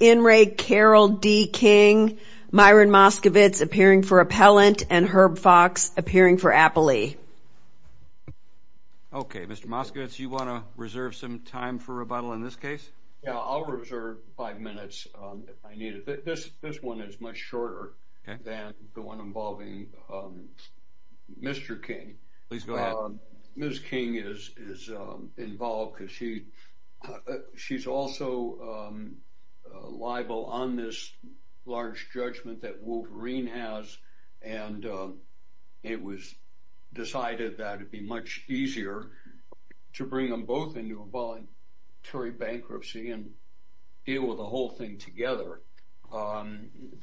In re Carol D. King, Myron Moskowitz appearing for appellant and Herb Fox appearing for Appley. Okay, Mr. Moskowitz, you want to reserve some time for rebuttal in this case? Yeah, I'll reserve five minutes if I need it. This this one is much shorter than the one involving Mr. King. Please go ahead. Ms. King is involved because she's also liable on this large judgment that Wolverine has, and it was decided that it'd be much easier to bring them both into a voluntary bankruptcy and deal with the whole thing together.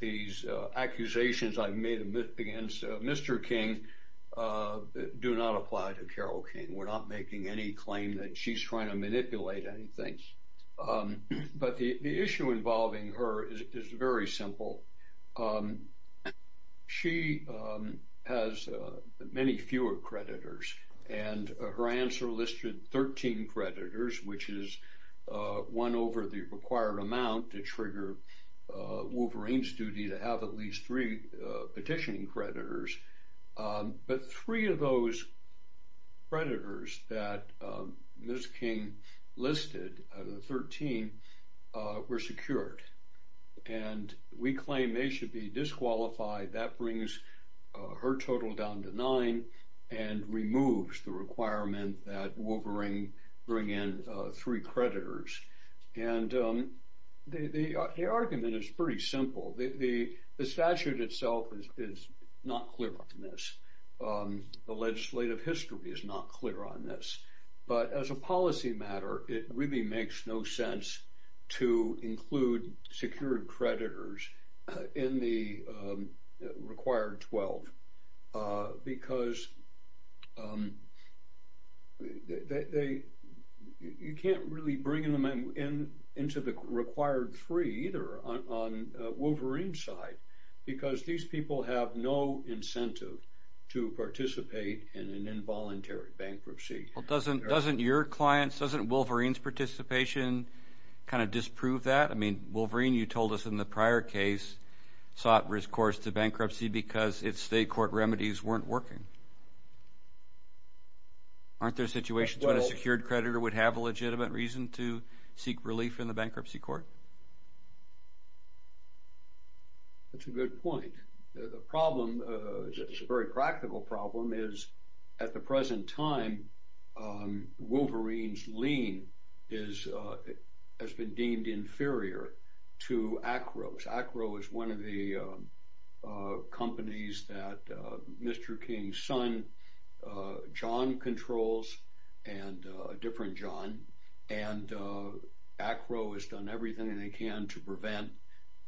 These accusations I've made against Mr. King do not apply to Carole King. We're not making any claim that she's trying to manipulate anything. But the issue involving her is very simple. She has many fewer creditors, and her answer listed 13 creditors, which is one over the required amount to trigger Wolverine's duty to have at least three petitioning creditors. But three of those creditors that Ms. King listed, 13, were secured. And we claim they should be disqualified. That brings her total down to nine and removes the requirement that Wolverine bring in three creditors. And the argument is pretty simple. The statute itself is not clear on this. The legislative history is not clear on this. But as a policy matter, it really makes no sense to include secured creditors in the required 12, because you can't really bring them into the required three either on Wolverine's side, because these people have no incentive to participate in an involuntary bankruptcy. Well, doesn't your clients, doesn't Wolverine's participation kind of disprove that? I mean, remedies weren't working. Aren't there situations where a secured creditor would have a legitimate reason to seek relief in the bankruptcy court? That's a good point. The problem, it's a very practical problem, is at the present time, Wolverine's lien has been deemed inferior to Acro. Acro is one of the Mr. King's son. John controls a different John. And Acro has done everything they can to prevent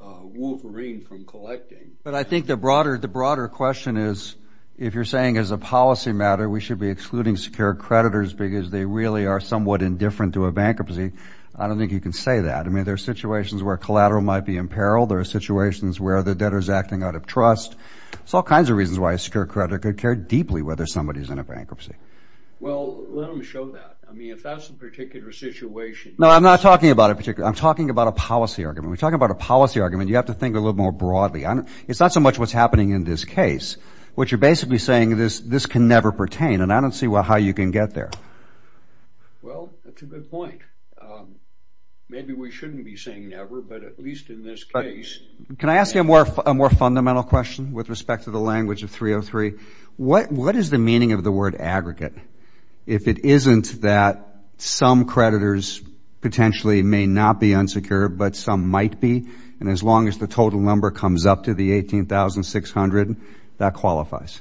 Wolverine from collecting. But I think the broader question is, if you're saying as a policy matter, we should be excluding secured creditors because they really are somewhat indifferent to a bankruptcy, I don't think you can say that. I mean, there are situations where collateral might be in peril. There are situations where the debtor is acting out of trust. There's all kinds of reasons why a secured creditor could care deeply whether somebody's in a bankruptcy. Well, let me show that. I mean, if that's the particular situation. No, I'm not talking about a particular. I'm talking about a policy argument. We're talking about a policy argument. You have to think a little more broadly. It's not so much what's happening in this case, which you're basically saying this can never pertain. And I don't see how you can get there. Well, that's a good point. Maybe we shouldn't be saying never, but at least in this case. Can I ask you a more fundamental question with respect to the language of 303? What is the meaning of the word aggregate if it isn't that some creditors potentially may not be unsecured, but some might be? And as long as the total number comes up to the 18,600, that qualifies?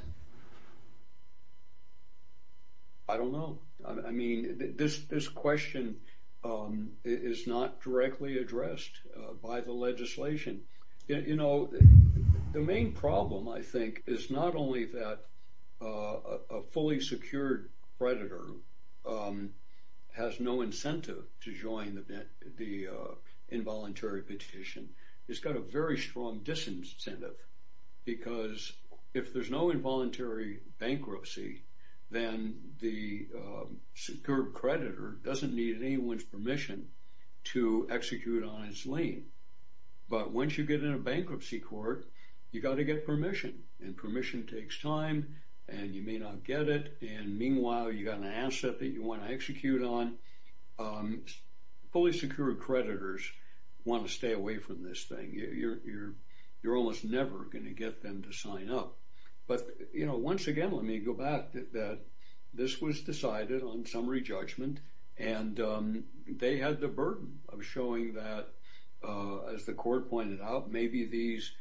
I don't know. I mean, this question is not directly addressed by the legislation. You know, the main problem, I think, is not only that a fully secured creditor has no incentive to join the involuntary petition. It's got a very strong disincentive, because if there's no involuntary bankruptcy, then the secured creditor doesn't need anyone's permission to execute on its lane. But once you get in a bankruptcy court, you got to get permission and permission takes time and you may not get it. And meanwhile, you got an asset that you want to execute on. Fully secured creditors want to stay away from this thing. You're almost never going to get them to sign up. But, you know, once again, let me go back that this was decided on summary judgment and they had the burden of showing that, as the court pointed out, maybe these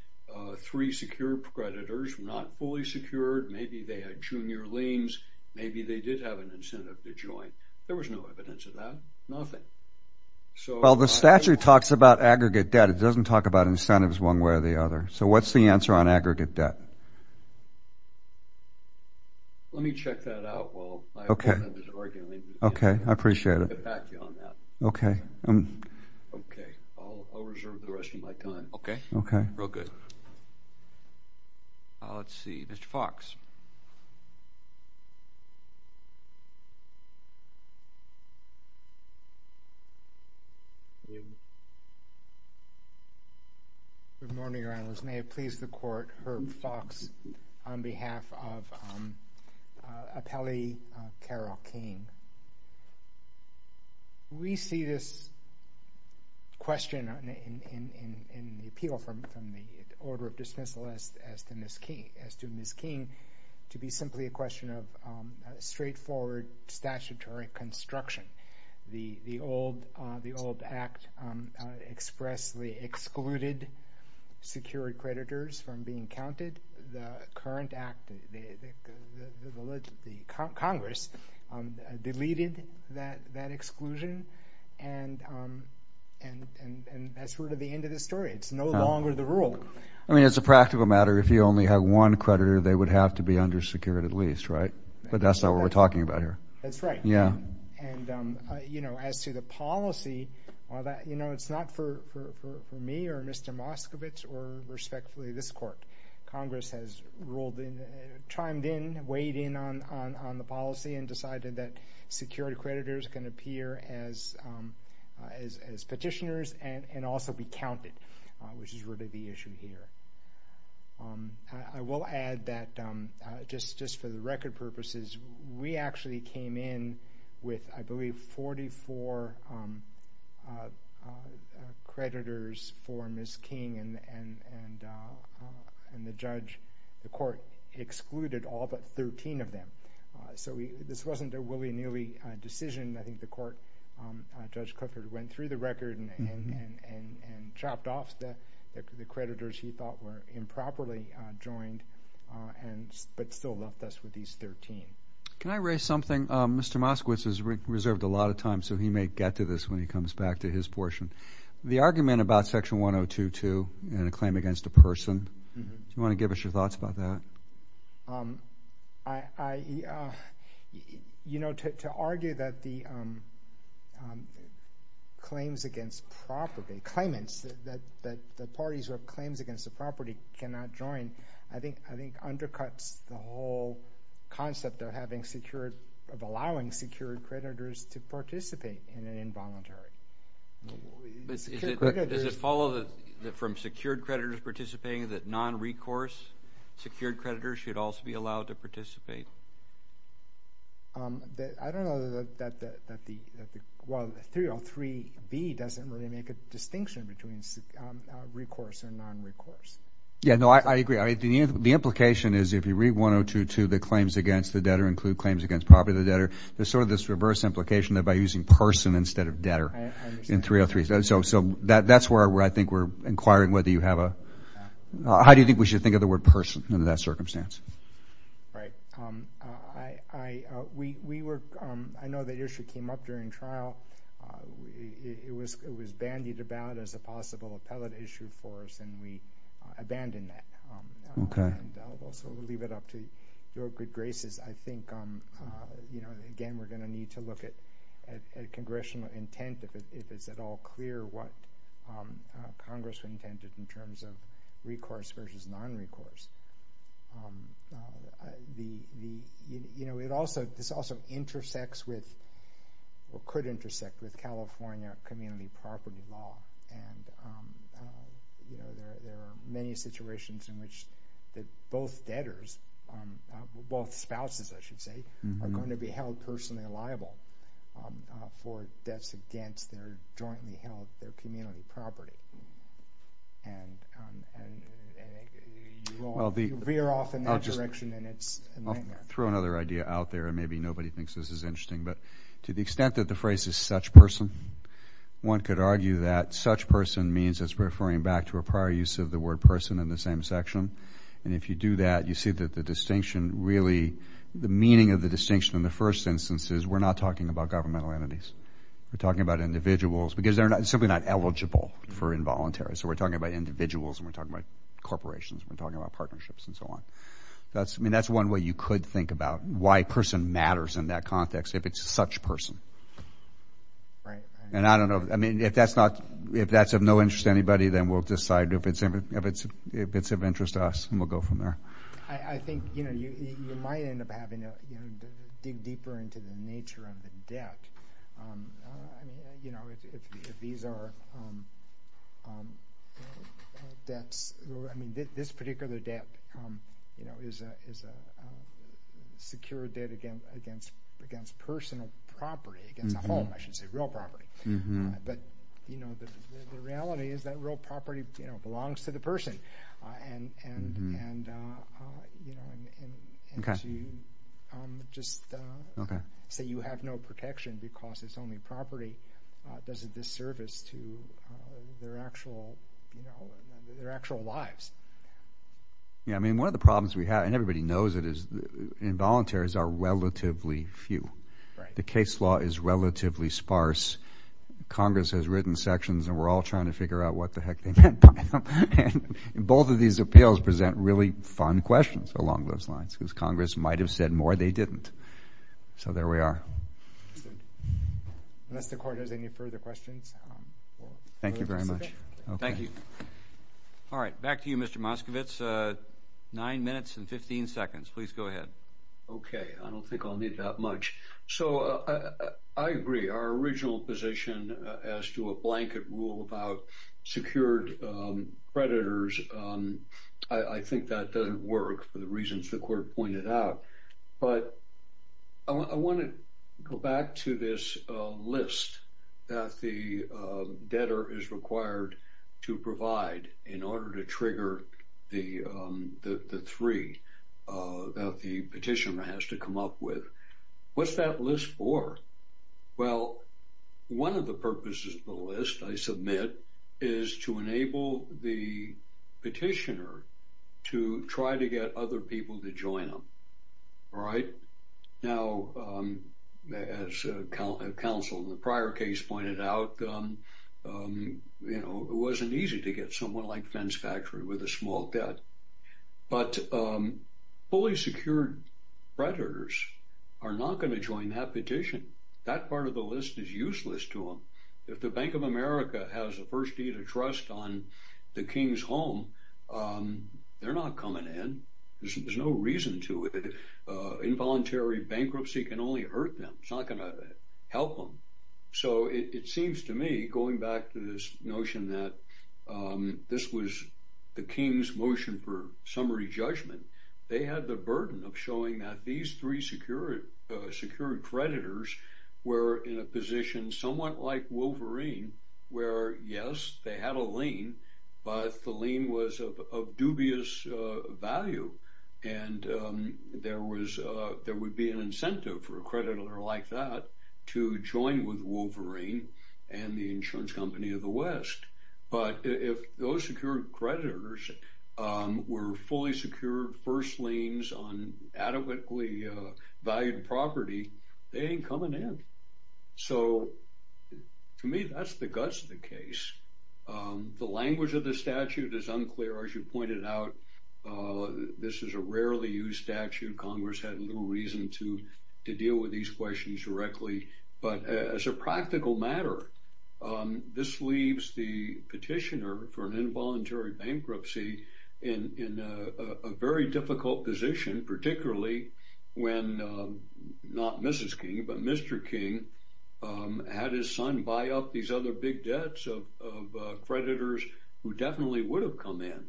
three secured creditors were not fully secured. Maybe they had junior liens. Maybe they did have an incentive to join. There was no evidence of that. Nothing. Well, the statute talks about aggregate debt. It doesn't talk about incentives one way or the other. So what's the Okay. I appreciate it. Okay. Okay. I'll reserve the rest of my time. Okay. Okay. Real good. Let's see. Mr Fox. Good morning, Your Honor. May it please the court. Herb Fox on behalf of Appellee Carol King. We see this question in the appeal from the Order of Dismissal as to Ms. King to be simply a question of straightforward statutory construction. The old act expressly excluded secured creditors from being counted. The current act, the Congress deleted that exclusion and that's sort of the end of the story. It's no longer the rule. I mean, it's a practical matter. If you only have one creditor, they would have to be under secured at least, right? But that's not what we're talking about here. That's right. Yeah. And, you know, as to the policy, you know, it's not for me or Mr. Moskowitz or respectfully this court. Congress has ruled in, chimed in, weighed in on the policy and decided that secured creditors can appear as petitioners and also be counted, which is really the issue here. I will add that just for the record purposes, we actually came in with, I believe, 44 creditors for Ms. King and the judge, the court excluded all but 13 of them. So this wasn't a willy-nilly decision. I think the court, Judge Cooker, went through the record and chopped off the creditors he thought were improperly joined but still left us with these 13. Can I raise something? Mr. Moskowitz has reserved a lot of time so he may get to this when he comes back to his portion. The argument about Section 1022 and a claim against a person, do you want to give us your thoughts about that? I, you know, to argue that the claims against property, claimants, that the parties who have claims against the property cannot join, I think undercuts the whole concept of having secured, of allowing secured creditors to participate in an involuntary. Does it follow that from secured creditors participating that non-recourse secured creditors should also be allowed to participate? I don't know that the, well, 303B doesn't really make a distinction between recourse and non-recourse. Yeah, no, I agree. I mean, the implication is if you read 1022, the claims against the debtor include claims against property of the debtor, there's sort of this reverse implication that by using person instead of debtor in 303. So that's where I think we're inquiring whether you have a, how do you think we should think of the word person in that circumstance? Right. I, we, we were, I know the issue came up during trial. It was, it was bandied about as a possible appellate issue for us and we abandoned that. Okay. So we'll leave it up to your good graces. I think, you know, again, we're going to need to look at, at congressional intent, if it's at all clear what Congress intended in terms of recourse versus non-recourse. The, you know, it also, this also intersects with, or could intersect with California community property law. And, you know, there are many situations in which both debtors, both spouses, I should say, are going to be held personally liable for debts against their jointly held, their community property. And, and, and you will veer off in that direction and it's a nightmare. I'll throw another idea out there and maybe nobody thinks this is interesting, but to the extent that the phrase is such person, one could argue that such person means it's referring back to a prior use of the word person in the same section. And if you do that, you see that the distinction really, the meaning of the distinction in the first instance is we're not talking about governmental entities. We're talking about individuals because they're simply not eligible for involuntary. So we're talking about individuals and we're talking about corporations. We're talking about partnerships and so on. That's, I mean, that's one way you could think about why person matters in that context, if it's such person. Right. And I don't know, I mean, if that's not, if that's of no interest to anybody, then we'll decide if it's, if it's, if it's of interest to us and we'll go from there. I think, you know, you might end up having to dig deeper into the nature of the debt. You know, if these are debts, I mean, this particular debt, you know, is a, is a secure debt against, against, against personal property, against a home, I should say real property. But, you know, the, the reality is that real property, you know, belongs to the person and, and, and, you know, and, and to just say you have no protection because it's only property does a disservice to their actual, you know, their actual lives. Yeah. I mean, one of the problems we have and everybody knows it is involuntaries are relatively few, the case law is relatively sparse. Congress has written sections and we're all trying to figure out what the heck they meant by them. And both of these appeals present really fun questions along those lines because Congress might have said more they didn't. So there we are. Unless the court has any further questions. Thank you very much. Thank you. All right, back to you, Mr. Moskovitz. Nine minutes and 15 seconds. Please go ahead. Okay. I don't think I'll need that much. So I agree our original position as to a blanket rule about secured predators. I think that doesn't work for the reasons the court pointed out, but I want to go back to this list that the debtor is required to provide in order to trigger the three that the petitioner has to come up with. What's that list for? Well, one of the purposes of the list I submit is to enable the petitioner to try to get other people to join them. All right. Now, as counsel in the prior case pointed out, you know, it wasn't easy to get someone like Fence Factory with a small debt, but fully secured predators are not going to join that petition. That part of the list is useless to them. If the Bank of America has the first deed of trust on the King's home, they're not coming in. There's no reason to. Involuntary bankruptcy can only hurt them. It's not going to help them. So it seems to me going back to this notion that this was the King's motion for summary judgment, they had the burden of showing that these three secured predators were in a position somewhat like Wolverine, where yes, they had a lien, but the lien was of dubious value. And there would be an incentive for a creditor like that to join with Wolverine and the insurance company of the West. But if those secured predators were fully secured, first liens on adequately valued property, they ain't coming in. So to me, that's the guts of the case. The language of the statute is unclear. As you pointed out, this is a rarely used statute. Congress had little reason to deal with these questions directly. But as a practical matter, this leaves the petitioner for an involuntary bankruptcy in a very difficult position, particularly when not Mrs. King, but Mr. King had his son buy up these other big debts of creditors who definitely would have come in.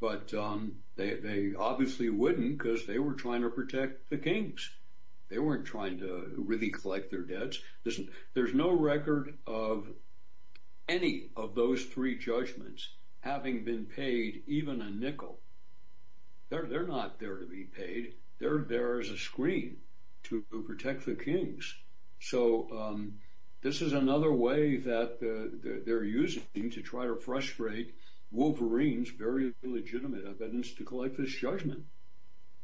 But they obviously wouldn't because they were trying to protect the Kings. They weren't trying to really collect their debts. There's no record of any of those three judgments having been paid, even a nickel. They're not there to be paid. They're there as a screen to protect the Kings. So this is another way that they're using to try to frustrate Wolverine's very legitimate evidence to collect this judgment.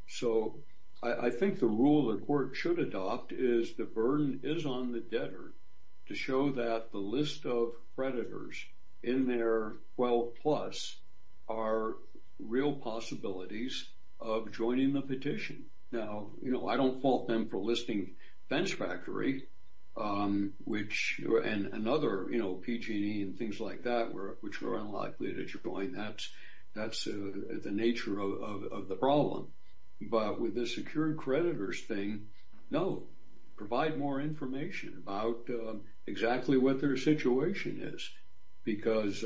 So I think the rule the court should adopt is the burden is on the debtor to show that the list of creditors in their 12 plus are real possibilities of joining the petition. Now, you know, I don't fault them for listing Fence Factory, which and another, you know, PG&E and things like that, which are unlikely that you're going, that's the nature of the problem. But with the secured creditors thing, no, provide more information about exactly what their situation is. Because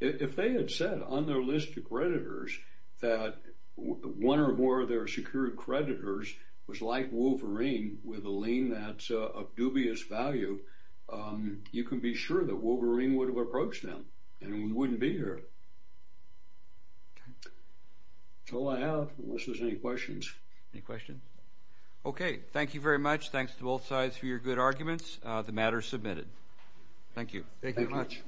if they had said on their list of creditors that one or more of their secured creditors was like Wolverine with a lien that's of dubious value, you can be sure that Wolverine would have approached them and we wouldn't be here. That's all I have unless there's any questions. Any questions? Okay, thank you very much. Thanks to both sides for your good arguments. The matter is submitted. Thank you. Thank you very much.